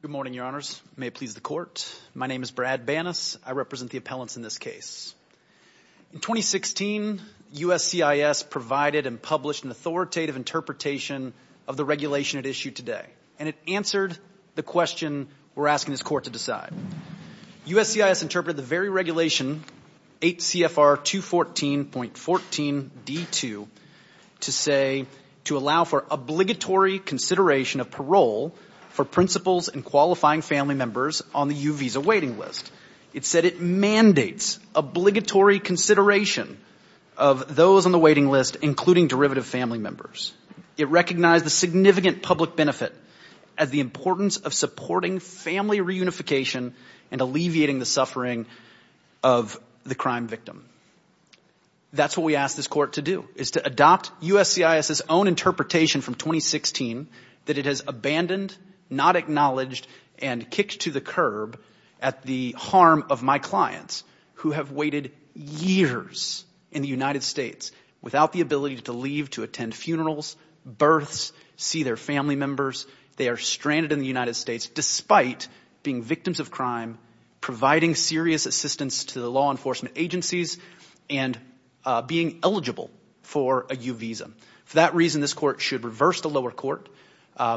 Good morning, Your Honors. May it please the Court. My name is Brad Banas. I represent the appellants in this case. In 2016, USCIS provided and published an authoritative interpretation of the regulation at issue today, and it answered the question we're asking this Court to decide. USCIS interpreted the very regulation, 8 CFR 214.14d2, to say, to allow for obligatory consideration of parole for principals and qualifying family members on the U Visa waiting list. It said it mandates obligatory consideration of those on the waiting list, including derivative family members. It recognized the significant public benefit as the importance of supporting family reunification and alleviating the suffering of the crime victim. That's what we ask this Court to do, is to adopt USCIS's own interpretation from 2016 that it has abandoned, not acknowledged, and kicked to the curb at the harm of my clients who have waited years in the United States without the ability to leave to attend funerals, births, see their family members. They are stranded in the United States despite being victims of crime, providing serious assistance to the law enforcement agencies, and being eligible for a U Visa. For that reason, this Court should reverse the lower court,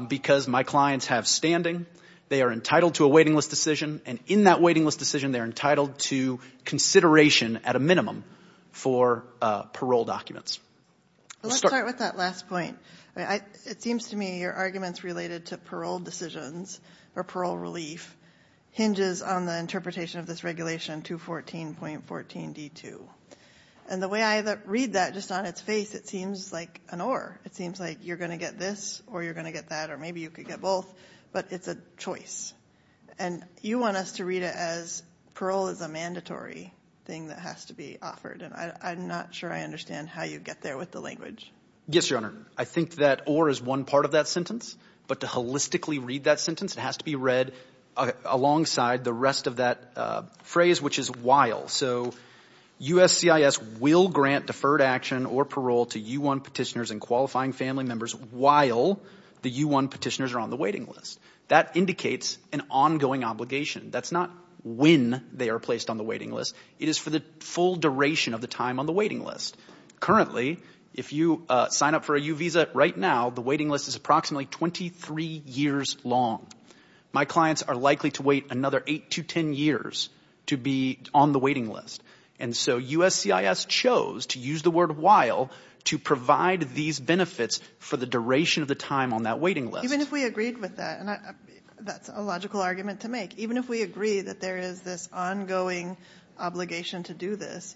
because my clients have standing. They are entitled to a waiting list decision, and in that waiting list decision, they're entitled to consideration at a minimum for parole documents. Let's start with that last point. It seems to me your arguments related to parole decisions or parole relief hinges on the interpretation of this regulation 214.14d2. And the way I read that, just on its face, it seems like an or. It seems like you're going to get this, or you're going to get that, or maybe you could get both, but it's a choice. And you want us to read it as parole is a mandatory thing that has to be offered, and I'm not sure I understand how you get there with the language. Yes, Your Honor. I think that or is one part of that sentence, but to holistically read that sentence, it has to be read alongside the rest of that phrase, which is while. So USCIS will grant deferred action or parole to U1 petitioners and qualifying family members while the U1 petitioners are on the waiting list. That indicates an ongoing obligation. That's not when they are placed on the waiting list. It is for the full duration of the time on the waiting list. Currently, if you sign up for a U visa right now, the waiting list is approximately 23 years long. My clients are likely to wait another 8 to 10 years to be on the waiting list. And so USCIS chose to use the word while to provide these benefits for the duration of the time on that waiting list. Even if we agreed with that, and that's a logical argument to make, even if we agree that there is this ongoing obligation to do this,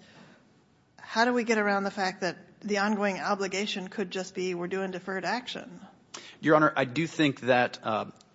how do we get around the fact that the ongoing obligation could just be we're doing deferred action? Your Honor, I do think that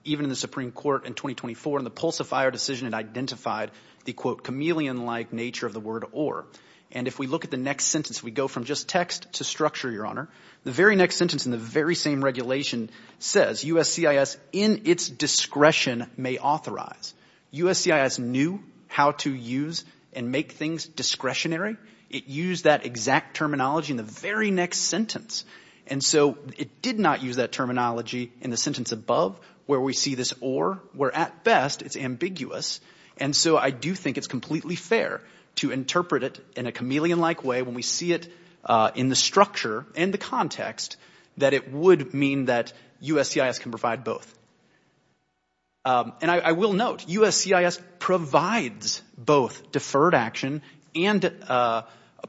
even in the Supreme Court in 2024, in the Pulsifier decision, it identified the, quote, chameleon-like nature of the word or. And if we look at the next sentence, we go from just text to structure, Your Honor. The very next sentence in the very same regulation says USCIS in its discretion may authorize. USCIS knew how to use and make things discretionary. It used that exact terminology in the very next sentence. And so it did not use that terminology in the sentence above where we see this or, where at best it's ambiguous. And so I do think it's completely fair to interpret it in a chameleon-like way when we see it in the structure and the context that it would mean that USCIS can provide both. And I will note USCIS provides both deferred action and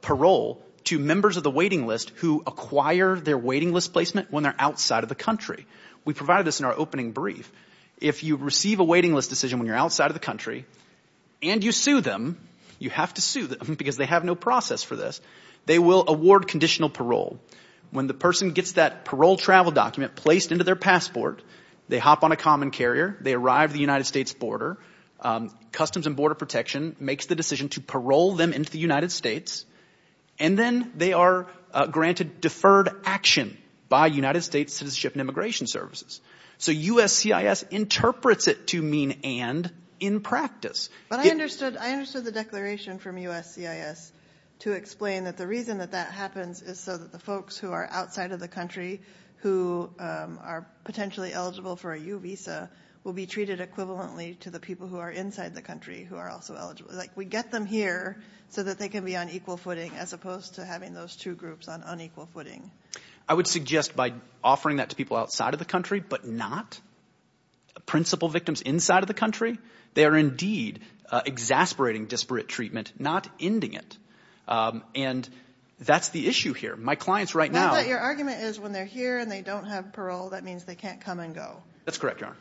parole to members of the waiting list who acquire their waiting list placement when they're outside of the country. We provided this in our opening brief. If you receive a waiting list decision when you're outside of the country and you sue them, you have to sue them because they have no process for this, they will award conditional parole. When the person gets that parole travel document placed into their passport, they hop on a common carrier, they arrive at the United States border, Customs and Border Protection makes the decision to parole them into the United States, and then they are granted deferred action by United States Citizenship and Immigration Services. So USCIS interprets it to mean and in practice. But I understood the declaration from USCIS to explain that the reason that that happens is so that the folks who are outside of the country who are potentially eligible for a U visa will be treated equivalently to the people who are inside the country who are also eligible. Like we get them here so that they can be on equal footing as opposed to having those two groups on unequal footing. I would suggest by offering that to people outside of the country but not principal victims inside of the country, they are indeed exasperating disparate treatment, not ending it. And that's the issue here. My clients right now – But your argument is when they're here and they don't have parole, that means they can't come and go. That's correct, Your Honor.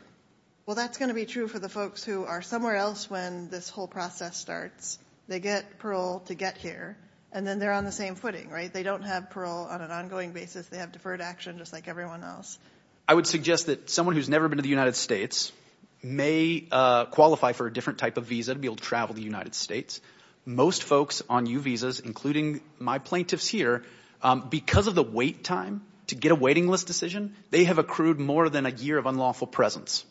Well, that's going to be true for the folks who are somewhere else when this whole process starts. They get parole to get here, and then they're on the same footing. They don't have parole on an ongoing basis. They have deferred action just like everyone else. I would suggest that someone who's never been to the United States may qualify for a different type of visa to be able to travel to the United States. Most folks on U visas, including my plaintiffs here, because of the wait time to get a waiting list decision, they have accrued more than a year of unlawful presence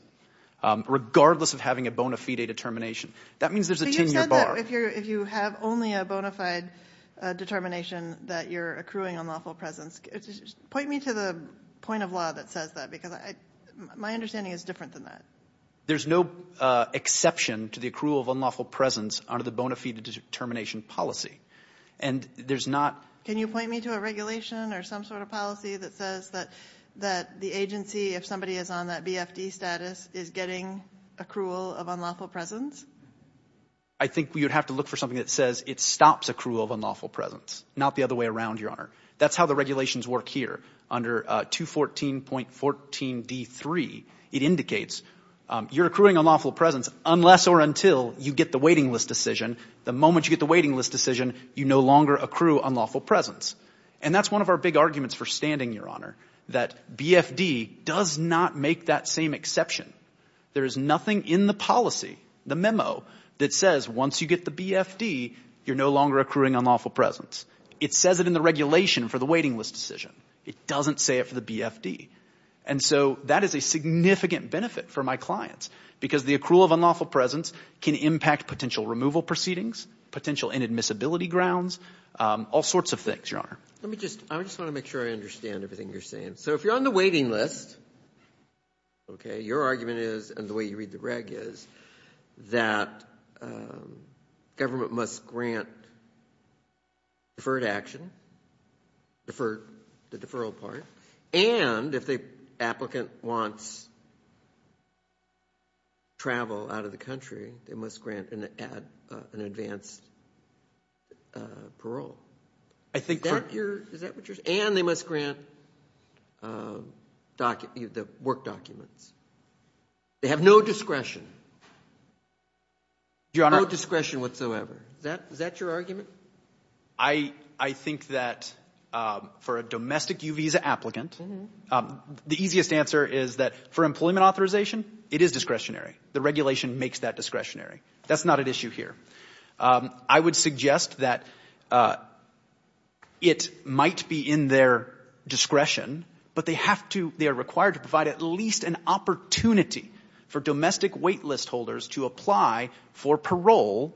regardless of having a bona fide determination. That means there's a 10-year bar. But you said that if you have only a bona fide determination that you're accruing unlawful presence. Point me to the point of law that says that because my understanding is different than that. There's no exception to the accrual of unlawful presence under the bona fide determination policy. And there's not— Can you point me to a regulation or some sort of policy that says that the agency, if somebody is on that BFD status, is getting accrual of unlawful presence? I think we would have to look for something that says it stops accrual of unlawful presence, not the other way around, Your Honor. That's how the regulations work here. Under 214.14d3, it indicates you're accruing unlawful presence unless or until you get the waiting list decision. The moment you get the waiting list decision, you no longer accrue unlawful presence. And that's one of our big arguments for standing, Your Honor, that BFD does not make that same exception. There is nothing in the policy, the memo, that says once you get the BFD, you're no longer accruing unlawful presence. It says it in the regulation for the waiting list decision. It doesn't say it for the BFD. And so that is a significant benefit for my clients because the accrual of unlawful presence can impact potential removal proceedings, potential inadmissibility grounds, all sorts of things, Your Honor. Let me just—I just want to make sure I understand everything you're saying. So if you're on the waiting list, okay, your argument is, and the way you read the reg is, that government must grant deferred action, the deferral part. And if the applicant wants travel out of the country, they must grant an advanced parole. Is that what you're saying? And they must grant the work documents. They have no discretion. No discretion whatsoever. Is that your argument? I think that for a domestic U visa applicant, the easiest answer is that for employment authorization, it is discretionary. The regulation makes that discretionary. That's not an issue here. I would suggest that it might be in their discretion, but they have to—they are required to provide at least an opportunity for domestic wait list holders to apply for parole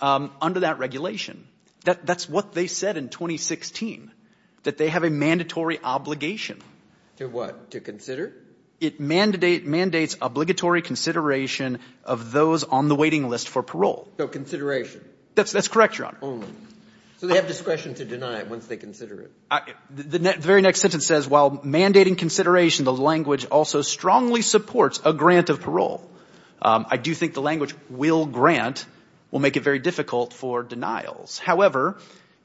under that regulation. That's what they said in 2016, that they have a mandatory obligation. To what? To consider? It mandates obligatory consideration of those on the waiting list for parole. So consideration. That's correct, Your Honor. Only. So they have discretion to deny it once they consider it. The very next sentence says, while mandating consideration, the language also strongly supports a grant of parole. I do think the language will grant will make it very difficult for denials. However,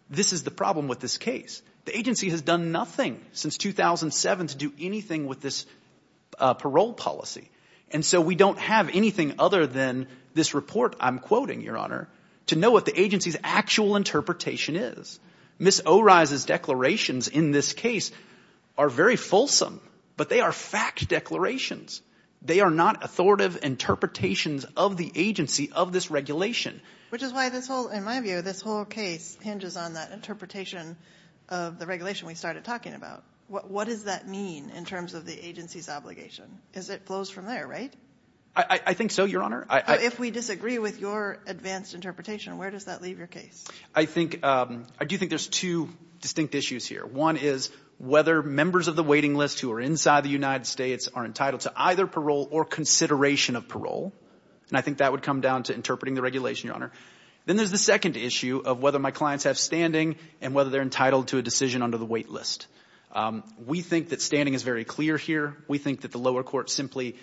this is the problem with this case. The agency has done nothing since 2007 to do anything with this parole policy. And so we don't have anything other than this report I'm quoting, Your Honor, to know what the agency's actual interpretation is. Ms. O'Reilly's declarations in this case are very fulsome, but they are fact declarations. They are not authoritative interpretations of the agency of this regulation. Which is why, in my view, this whole case hinges on that interpretation of the regulation we started talking about. What does that mean in terms of the agency's obligation? Because it flows from there, right? I think so, Your Honor. If we disagree with your advanced interpretation, where does that leave your case? I do think there's two distinct issues here. One is whether members of the waiting list who are inside the United States are entitled to either parole or consideration of parole. And I think that would come down to interpreting the regulation, Your Honor. Then there's the second issue of whether my clients have standing and whether they're entitled to a decision under the wait list. We think that standing is very clear here. We think that the lower court simply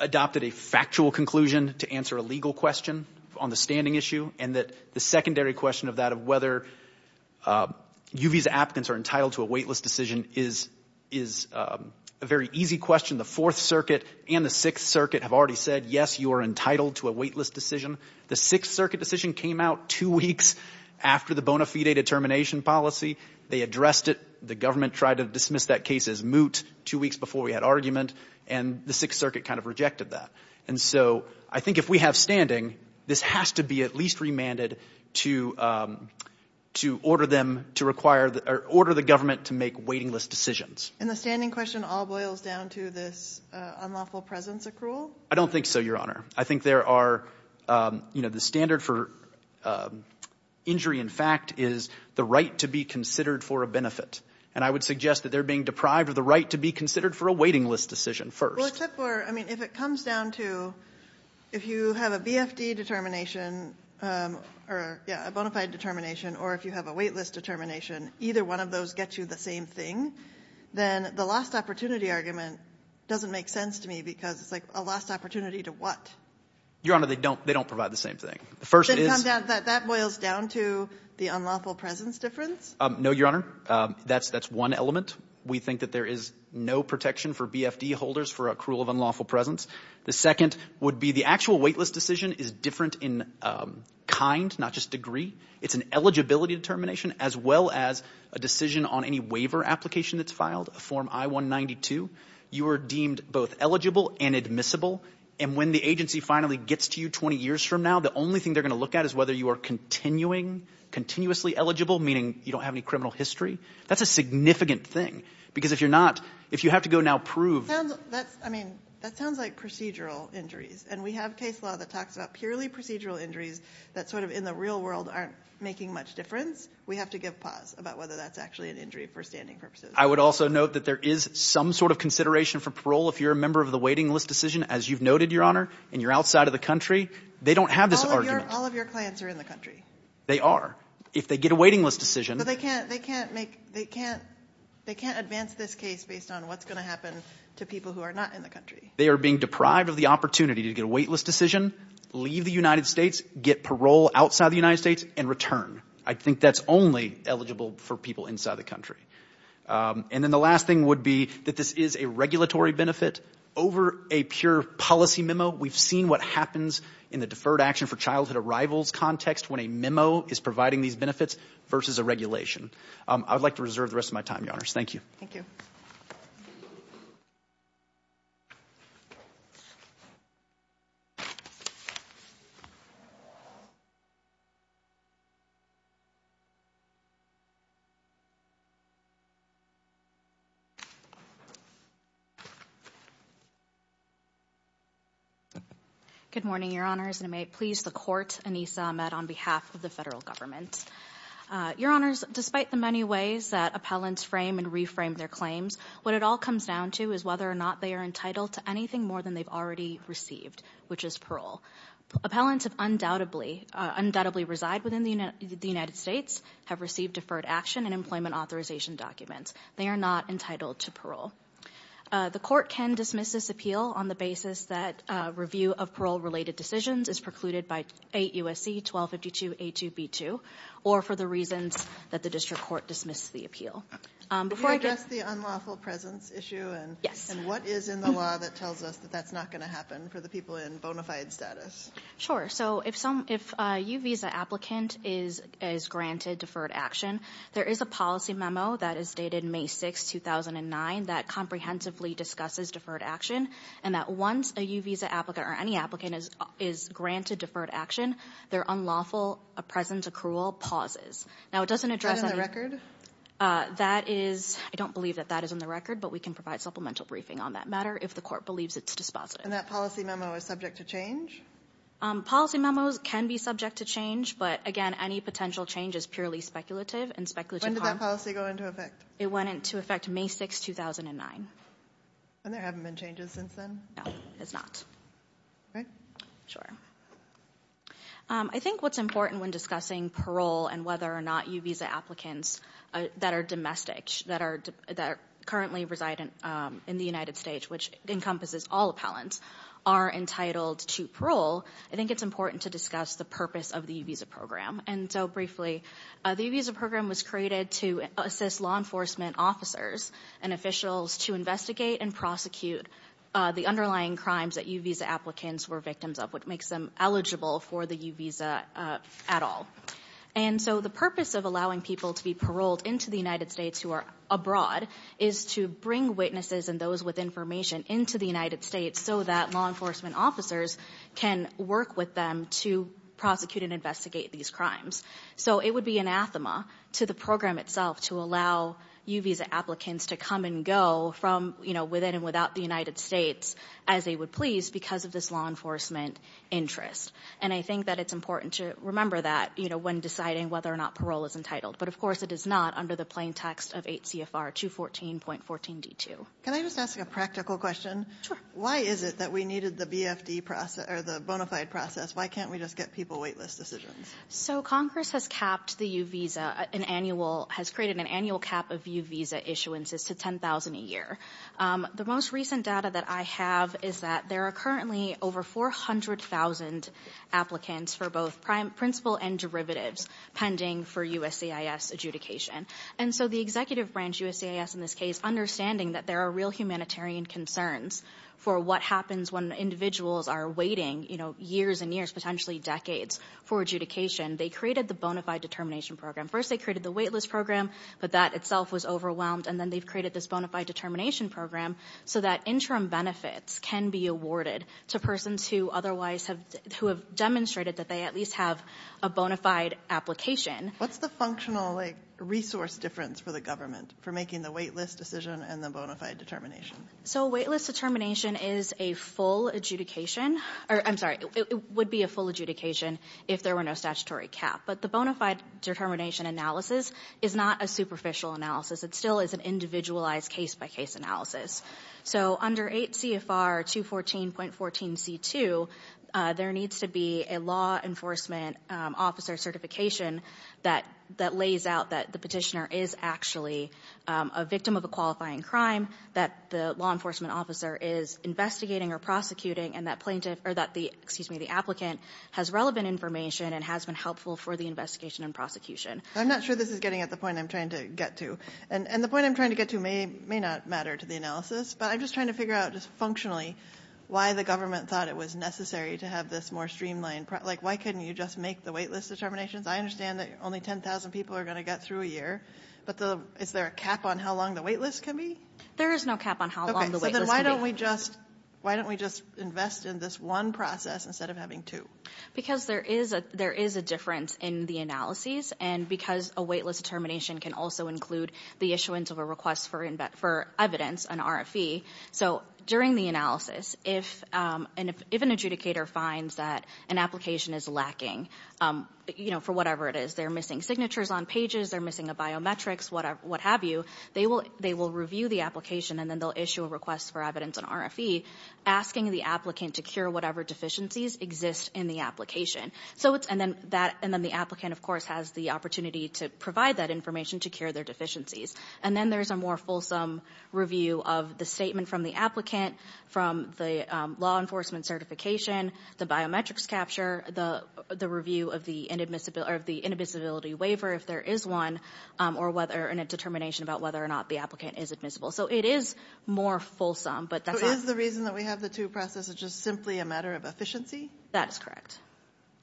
adopted a factual conclusion to answer a legal question on the standing issue. And that the secondary question of that, of whether U.V.'s applicants are entitled to a wait list decision, is a very easy question. The Fourth Circuit and the Sixth Circuit have already said, yes, you are entitled to a wait list decision. The Sixth Circuit decision came out two weeks after the bona fide determination policy. They addressed it. The government tried to dismiss that case as moot two weeks before we had argument. And the Sixth Circuit kind of rejected that. And so I think if we have standing, this has to be at least remanded to order them to require or order the government to make waiting list decisions. And the standing question all boils down to this unlawful presence accrual? I don't think so, Your Honor. I think there are, you know, the standard for injury in fact is the right to be considered for a benefit. And I would suggest that they're being deprived of the right to be considered for a waiting list decision first. Well, except for, I mean, if it comes down to if you have a BFD determination or, yeah, a bona fide determination or if you have a wait list determination, either one of those gets you the same thing, then the lost opportunity argument doesn't make sense to me because it's like a lost opportunity to what? Your Honor, they don't provide the same thing. The first is — Then that boils down to the unlawful presence difference? No, Your Honor. That's one element. We think that there is no protection for BFD holders for accrual of unlawful presence. The second would be the actual wait list decision is different in kind, not just degree. It's an eligibility determination as well as a decision on any waiver application that's filed, a Form I-192. You are deemed both eligible and admissible. And when the agency finally gets to you 20 years from now, the only thing they're going to look at is whether you are continuing continuously eligible, meaning you don't have any criminal history. That's a significant thing because if you're not — if you have to go now prove — That sounds like procedural injuries. And we have case law that talks about purely procedural injuries that sort of in the real world aren't making much difference. We have to give pause about whether that's actually an injury for standing purposes. I would also note that there is some sort of consideration for parole if you're a member of the waiting list decision. As you've noted, Your Honor, and you're outside of the country, they don't have this argument. All of your clients are in the country. They are. If they get a waiting list decision — But they can't make — they can't advance this case based on what's going to happen to people who are not in the country. They are being deprived of the opportunity to get a wait list decision, leave the United States, get parole outside the United States, and return. I think that's only eligible for people inside the country. And then the last thing would be that this is a regulatory benefit. Over a pure policy memo, we've seen what happens in the Deferred Action for Childhood Arrivals context when a memo is providing these benefits versus a regulation. I would like to reserve the rest of my time, Your Honors. Thank you. Thank you. Good morning, Your Honors. And may it please the Court, Anissa Ahmed, on behalf of the federal government. Your Honors, despite the many ways that appellants frame and reframe their claims, what it all comes down to is whether or not they are entitled to anything more than they've already received, which is parole. Appellants who undoubtedly reside within the United States have received deferred action and employment authorization documents. They are not entitled to parole. The court can dismiss this appeal on the basis that review of parole-related decisions is precluded by 8 U.S.C. 1252 A2B2, or for the reasons that the district court dismissed the appeal. Before I get- Can you address the unlawful presence issue? Yes. And what is in the law that tells us that that's not going to happen for the people in bona fide status? Sure. So if a U visa applicant is granted deferred action, there is a policy memo that is dated May 6, 2009, that comprehensively discusses deferred action, and that once a U visa applicant or any applicant is granted deferred action, their unlawful presence accrual pauses. Now it doesn't address- Is that in the record? That is- I don't believe that that is in the record, but we can provide supplemental briefing on that matter if the court believes it's dispositive. And that policy memo is subject to change? Policy memos can be subject to change, but, again, any potential change is purely speculative and speculative- When did that policy go into effect? It went into effect May 6, 2009. And there haven't been changes since then? No, there's not. All right. Sure. I think what's important when discussing parole and whether or not U visa applicants that are domestic, that currently reside in the United States, which encompasses all appellants, are entitled to parole, I think it's important to discuss the purpose of the U visa program. And so, briefly, the U visa program was created to assist law enforcement officers and officials to investigate and prosecute the underlying crimes that U visa applicants were victims of, which makes them eligible for the U visa at all. And so the purpose of allowing people to be paroled into the United States who are abroad is to bring witnesses and those with information into the United States so that law enforcement officers can work with them to prosecute and investigate these crimes. So it would be anathema to the program itself to allow U visa applicants to come and go from, you know, within and without the United States as they would please because of this law enforcement interest. And I think that it's important to remember that, you know, when deciding whether or not parole is entitled. But, of course, it is not under the plain text of 8 CFR 214.14D2. Can I just ask a practical question? Sure. Why is it that we needed the BFD process or the bona fide process? Why can't we just get people wait list decisions? So Congress has capped the U visa, an annual, has created an annual cap of U visa issuances to 10,000 a year. The most recent data that I have is that there are currently over 400,000 applicants for both principal and derivatives pending for USCIS adjudication. And so the executive branch, USCIS in this case, understanding that there are real humanitarian concerns for what happens when individuals are waiting, you know, years and years, potentially decades for adjudication, they created the bona fide determination program. First they created the wait list program, but that itself was overwhelmed. And then they've created this bona fide determination program so that interim benefits can be awarded to persons who otherwise have, who have demonstrated that they at least have a bona fide application. What's the functional, like, resource difference for the government for making the wait list decision and the bona fide determination? So a wait list determination is a full adjudication, or I'm sorry, it would be a full adjudication if there were no statutory cap. But the bona fide determination analysis is not a superficial analysis. It still is an individualized case-by-case analysis. So under 8 CFR 214.14C2, there needs to be a law enforcement officer certification that lays out that the petitioner is actually a victim of a qualifying crime, that the law enforcement officer is investigating or prosecuting, and that plaintiff, or that the, excuse me, the applicant has relevant information and has been helpful for the investigation and prosecution. I'm not sure this is getting at the point I'm trying to get to. And the point I'm trying to get to may not matter to the analysis, but I'm just trying to figure out just functionally why the government thought it was necessary to have this more streamlined, like, why couldn't you just make the wait list determinations? I understand that only 10,000 people are going to get through a year. But is there a cap on how long the wait list can be? There is no cap on how long the wait list can be. Okay. So then why don't we just invest in this one process instead of having two? Because there is a difference in the analyses, and because a wait list determination can also include the issuance of a request for evidence, an RFE. So during the analysis, if an adjudicator finds that an application is lacking, you know, for whatever it is, they're missing signatures on pages, they're missing a biometrics, what have you, they will review the application and then they'll issue a request for evidence, an RFE, asking the applicant to cure whatever deficiencies exist in the application. And then the applicant, of course, has the opportunity to provide that information to cure their deficiencies. And then there's a more fulsome review of the statement from the applicant, from the law enforcement certification, the biometrics capture, the review of the inadmissibility waiver, if there is one, or whether in a determination about whether or not the applicant is admissible. So it is more fulsome, but that's all. So is the reason that we have the two processes just simply a matter of efficiency? That is correct.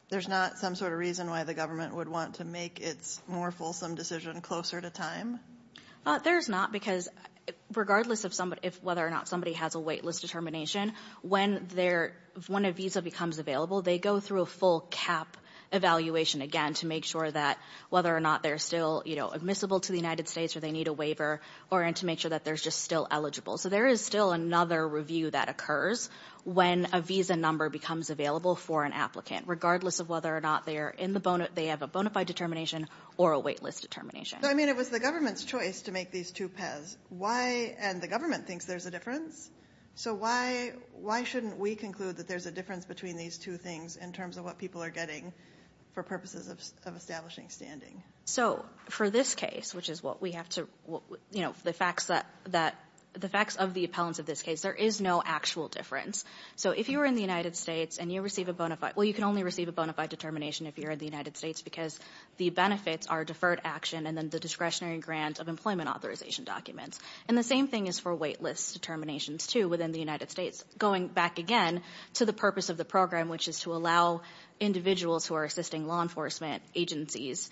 There's not some sort of reason why the government would want to make its more fulsome decision closer to time? There's not, because regardless of whether or not somebody has a waitlist determination, when a visa becomes available, they go through a full cap evaluation again to make sure that whether or not they're still, you know, admissible to the United States or they need a waiver, or to make sure that they're just still eligible. So there is still another review that occurs when a visa number becomes available for an applicant, regardless of whether or not they have a bona fide determination or a waitlist determination. I mean, it was the government's choice to make these two paths. And the government thinks there's a difference. So why shouldn't we conclude that there's a difference between these two things in terms of what people are getting for purposes of establishing standing? So for this case, which is what we have to, you know, the facts of the appellants of this case, there is no actual difference. So if you were in the United States and you receive a bona fide, well, you can only receive a bona fide determination if you're in the United States, because the benefits are deferred action and then the discretionary grant of employment authorization documents. And the same thing is for waitlist determinations, too, within the United States, going back again to the purpose of the program, which is to allow individuals who are assisting law enforcement agencies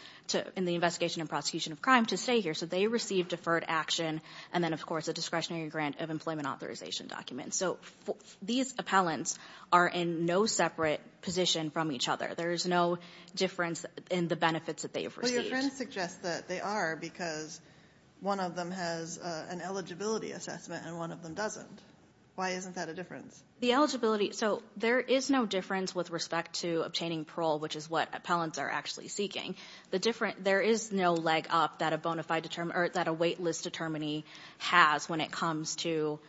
in the investigation and prosecution of crime to stay here. So they receive deferred action and then, of course, a discretionary grant of employment authorization documents. So these appellants are in no separate position from each other. There is no difference in the benefits that they have received. Well, your friend suggests that they are because one of them has an eligibility assessment and one of them doesn't. Why isn't that a difference? The eligibility, so there is no difference with respect to obtaining parole, which is what appellants are actually seeking. The difference, there is no leg up that a bona fide, or that a waitlist determinant has when it comes to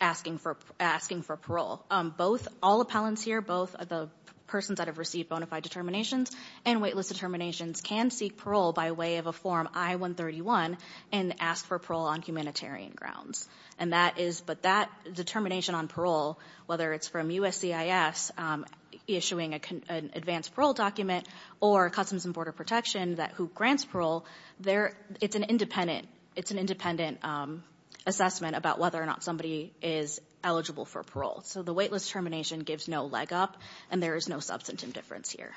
asking for parole. Both, all appellants here, both the persons that have received bona fide determinations and waitlist determinations, can seek parole by way of a Form I-131 and ask for parole on humanitarian grounds. And that is, but that determination on parole, whether it's from USCIS issuing an advanced parole document, or Customs and Border Protection who grants parole, it's an independent assessment about whether or not somebody is eligible for parole. So the waitlist termination gives no leg up, and there is no substantive difference here.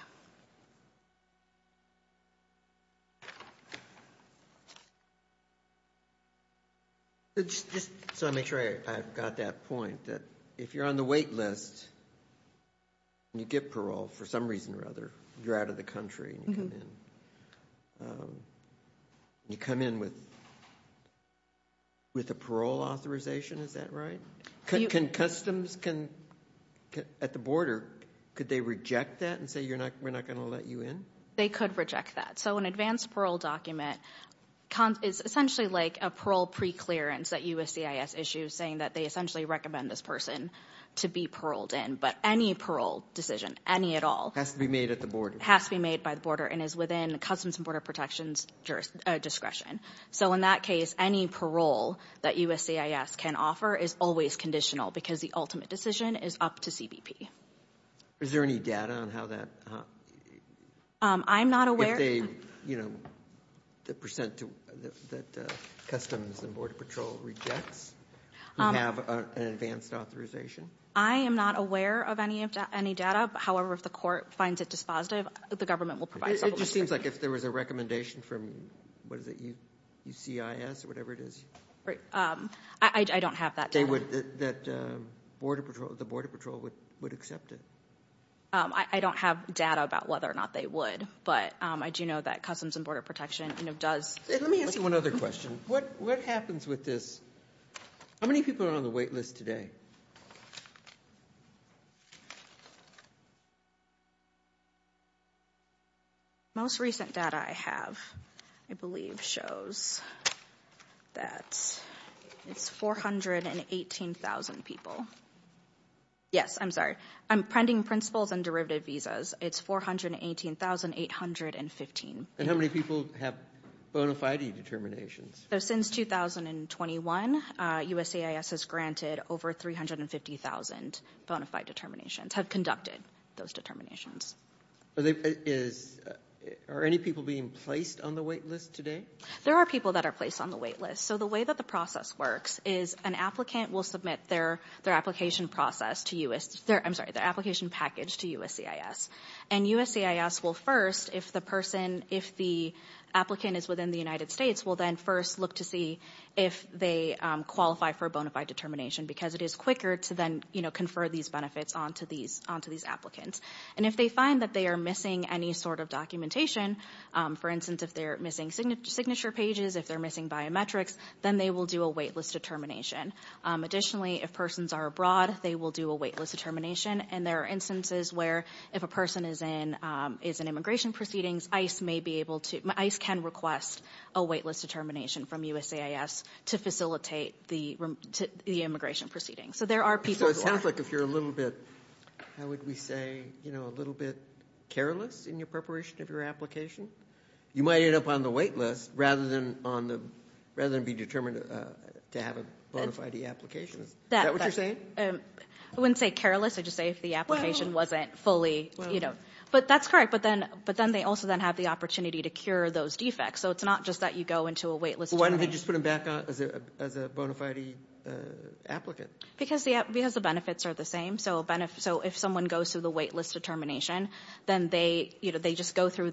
Just so I make sure I've got that point, that if you're on the waitlist and you get parole, for some reason or other, you're out of the country and you come in, you come in with a parole authorization, is that right? Customs can, at the border, could they reject that and say we're not going to let you in? They could reject that. So an advanced parole document is essentially like a parole preclearance that USCIS issues, saying that they essentially recommend this person to be paroled in. But any parole decision, any at all- Has to be made at the border. Has to be made by the border and is within Customs and Border Protection's discretion. So in that case, any parole that USCIS can offer is always conditional because the ultimate decision is up to CBP. Is there any data on how that- I'm not aware- If they, you know, the percent that Customs and Border Patrol rejects, you have an advanced authorization? I am not aware of any data. However, if the court finds it dispositive, the government will provide- It just seems like if there was a recommendation from, what is it, USCIS or whatever it is- I don't have that data. That Border Patrol, the Border Patrol would accept it. I don't have data about whether or not they would, but I do know that Customs and Border Protection does- Let me ask you one other question. What happens with this- How many people are on the wait list today? Most recent data I have, I believe, shows that it's 418,000 people. Yes, I'm sorry. Pending principles and derivative visas, it's 418,815. And how many people have bona fide determinations? Since 2021, USCIS has granted over 350,000 bona fide determinations, have conducted those determinations. Are any people being placed on the wait list today? There are people that are placed on the wait list. So the way that the process works is an applicant will submit their application process to- I'm sorry, their application package to USCIS. And USCIS will first, if the person- If the applicant is within the United States, will then first look to see if they qualify for a bona fide determination, because it is quicker to then confer these benefits onto these applicants. And if they find that they are missing any sort of documentation, for instance, if they're missing signature pages, if they're missing biometrics, then they will do a wait list determination. Additionally, if persons are abroad, they will do a wait list determination. And there are instances where if a person is in immigration proceedings, ICE may be able to- ICE can request a wait list determination from USCIS to facilitate the immigration proceedings. So there are people who are- So it sounds like if you're a little bit, how would we say, a little bit careless in your preparation of your application, you might end up on the wait list rather than be determined to have a bona fide application. Is that what you're saying? I wouldn't say careless, I'd just say if the application wasn't fully- But that's correct. But then they also then have the opportunity to cure those defects. So it's not just that you go into a wait list determination. Why don't they just put them back on as a bona fide applicant? Because the benefits are the same. So if someone goes through the wait list determination, then they just go through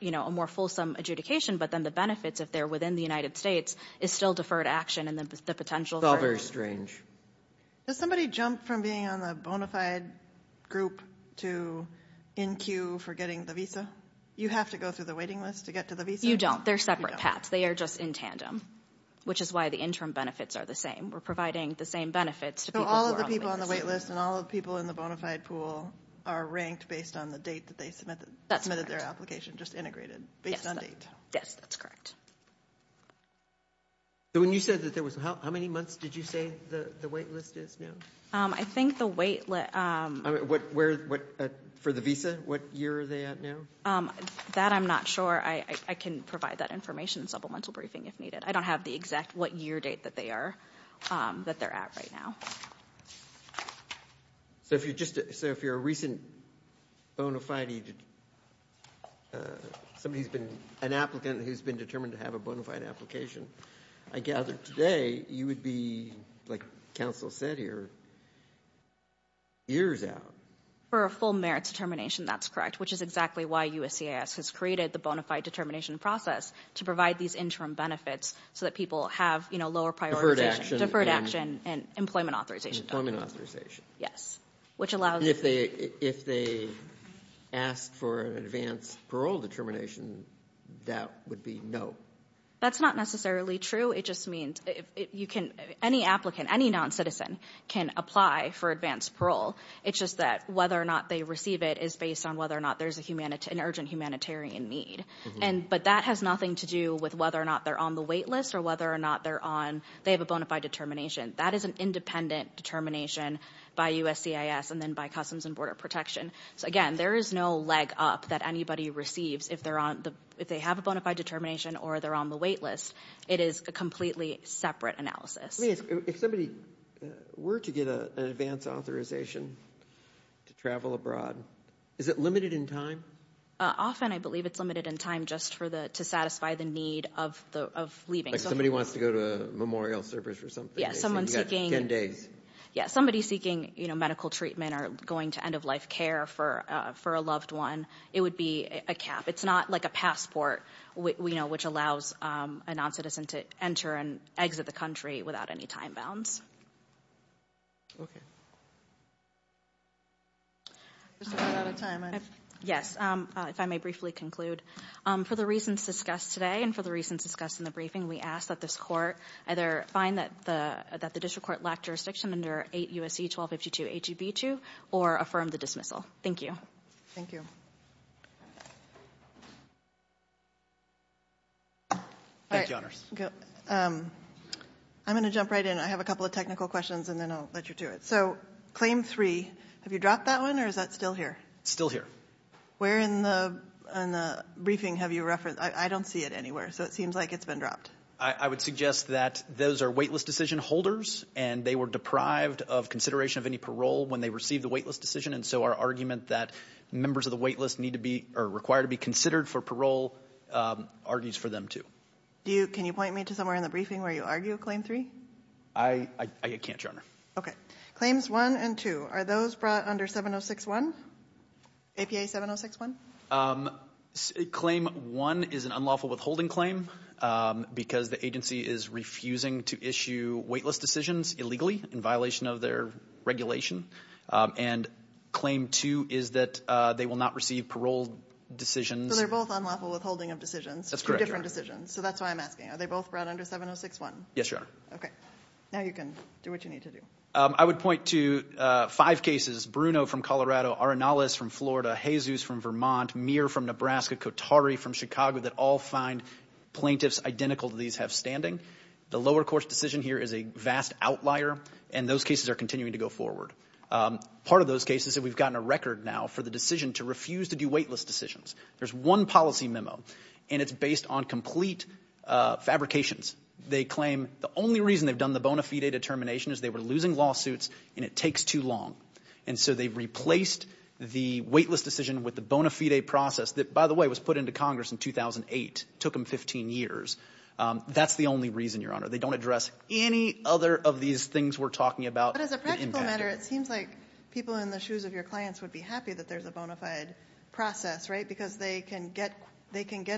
a more fulsome adjudication, but then the benefits, if they're within the United States, is still deferred action and the potential for- It's all very strange. Does somebody jump from being on the bona fide group to in queue for getting the visa? You have to go through the waiting list to get to the visa? You don't. They're separate paths. They are just in tandem, which is why the interim benefits are the same. We're providing the same benefits to people who are on the wait list. So all of the people on the wait list and all of the people in the bona fide pool are ranked based on the date that they submitted their application, just integrated based on date. Yes, that's correct. So when you said that there was- how many months did you say the wait list is now? I think the wait- For the visa, what year are they at now? That I'm not sure. I can provide that information in supplemental briefing if needed. I don't have the exact what year date that they are, that they're at right now. So if you're just- so if you're a recent bona fide- somebody who's been- an applicant who's been determined to have a bona fide application, I gather today you would be, like counsel said here, years out. For a full merits determination, that's correct, which is exactly why USCIS has created the bona fide determination process to provide these interim benefits so that people have, you know, lower prioritization. Deferred action. Deferred action and employment authorization. Employment authorization. Yes, which allows- If they ask for an advance parole determination, that would be no. That's not necessarily true. It just means you can- any applicant, any non-citizen can apply for advance parole. It's just that whether or not they receive it is based on whether or not there's an urgent humanitarian need. But that has nothing to do with whether or not they're on the wait list or whether or not they're on- they have a bona fide determination. That is an independent determination by USCIS and then by Customs and Border Protection. So again, there is no leg up that anybody receives if they're on- if they have a bona fide determination or they're on the wait list. It is a completely separate analysis. Let me ask, if somebody were to get an advance authorization to travel abroad, is it limited in time? Often I believe it's limited in time just for the- to satisfy the need of leaving. Like somebody wants to go to a memorial service or something. Yes, someone seeking- Ten days. Yes, somebody seeking medical treatment or going to end of life care for a loved one, it would be a cap. It's not like a passport, you know, which allows a non-citizen to enter and exit the country without any time bounds. Okay. We're running out of time. Yes, if I may briefly conclude. For the reasons discussed today and for the reasons discussed in the briefing, we ask that this court either find that the- that the district court lacked jurisdiction under 8 U.S.C. 1252 H.E.B. 2 or affirm the dismissal. Thank you. Thank you. Thank you, honors. I'm going to jump right in. I have a couple of technical questions and then I'll let you do it. So claim 3, have you dropped that one or is that still here? It's still here. Where in the briefing have you referenced- I don't see it anywhere, so it seems like it's been dropped. I would suggest that those are waitlist decision holders and they were deprived of consideration of any parole when they received the waitlist decision. And so our argument that members of the waitlist need to be- are required to be considered for parole argues for them too. Do you- can you point me to somewhere in the briefing where you argue claim 3? I can't, your honor. Okay. Claims 1 and 2, are those brought under 706-1? APA 706-1? Claim 1 is an unlawful withholding claim because the agency is refusing to issue waitlist decisions illegally in violation of their regulation. And claim 2 is that they will not receive parole decisions. So they're both unlawful withholding of decisions? That's correct, your honor. Two different decisions. So that's why I'm asking. Are they both brought under 706-1? Yes, your honor. Okay. Now you can do what you need to do. I would point to five cases. Bruno from Colorado, Arenales from Florida, Jesus from Vermont, Meir from Nebraska, Kotari from Chicago that all find plaintiffs identical to these have standing. The lower court's decision here is a vast outlier and those cases are continuing to go forward. Part of those cases that we've gotten a record now for the decision to refuse to do waitlist decisions. There's one policy memo and it's based on complete fabrications. They claim the only reason they've done the bona fide determination is they were losing lawsuits and it takes too long. And so they've replaced the waitlist decision with the bona fide process that, by the way, was put into Congress in 2008. Took them 15 years. That's the only reason, your honor. They don't address any other of these things we're talking about. But as a practical matter, it seems like people in the shoes of your clients would be happy that there's a bona fide process, right? Because they can get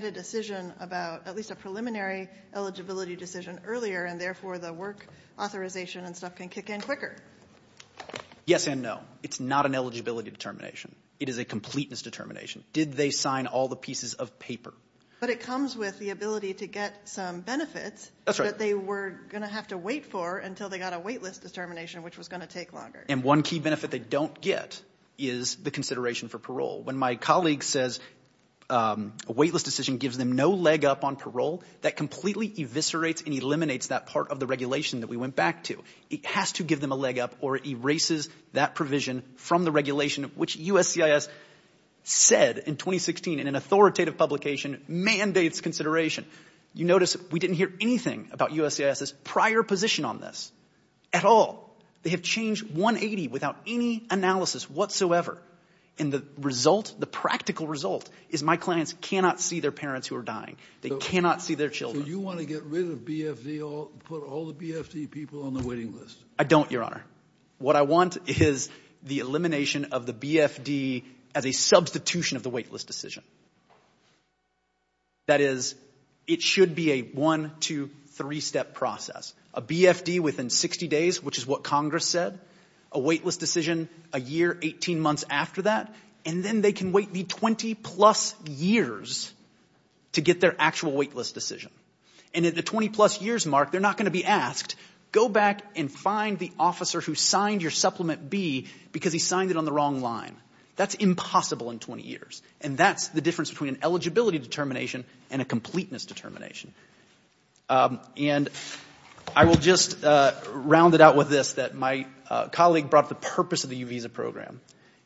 a decision about at least a preliminary eligibility decision earlier and therefore the work authorization and stuff can kick in quicker. Yes and no. It's not an eligibility determination. It is a completeness determination. Did they sign all the pieces of paper? But it comes with the ability to get some benefits that they were going to have to wait for until they got a waitlist determination, which was going to take longer. And one key benefit they don't get is the consideration for parole. When my colleague says a waitlist decision gives them no leg up on parole, that completely eviscerates and eliminates that part of the regulation that we went back to. It has to give them a leg up or it erases that provision from the regulation, which USCIS said in 2016 in an authoritative publication, mandates consideration. You notice we didn't hear anything about USCIS's prior position on this at all. They have changed 180 without any analysis whatsoever. And the result, the practical result, is my clients cannot see their parents who are dying. They cannot see their children. So you want to get rid of BFD, put all the BFD people on the waiting list? I don't, Your Honor. What I want is the elimination of the BFD as a substitution of the waitlist decision. That is, it should be a one, two, three-step process. A BFD within 60 days, which is what Congress said. A waitlist decision a year, 18 months after that. And then they can wait the 20-plus years to get their actual waitlist decision. And at the 20-plus years mark, they're not going to be asked, go back and find the officer who signed your supplement B because he signed it on the wrong line. That's impossible in 20 years. And that's the difference between an eligibility determination and a completeness determination. And I will just round it out with this, that my colleague brought the purpose of the U-Visa program.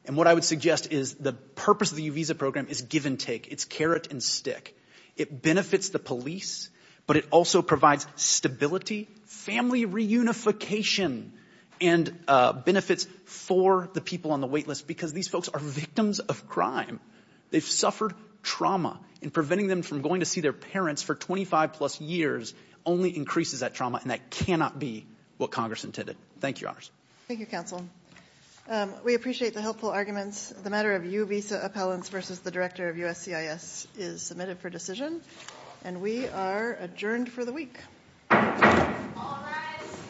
And what I would suggest is the purpose of the U-Visa program is give and take. It's carrot and stick. It benefits the police, but it also provides stability, family reunification, and benefits for the people on the waitlist because these folks are victims of crime. They've suffered trauma, and preventing them from going to see their parents for 25-plus years only increases that trauma, and that cannot be what Congress intended. Thank you, Honors. Thank you, Counsel. We appreciate the helpful arguments. The matter of U-Visa appellants versus the director of USCIS is submitted for decision. And we are adjourned for the week. All rise.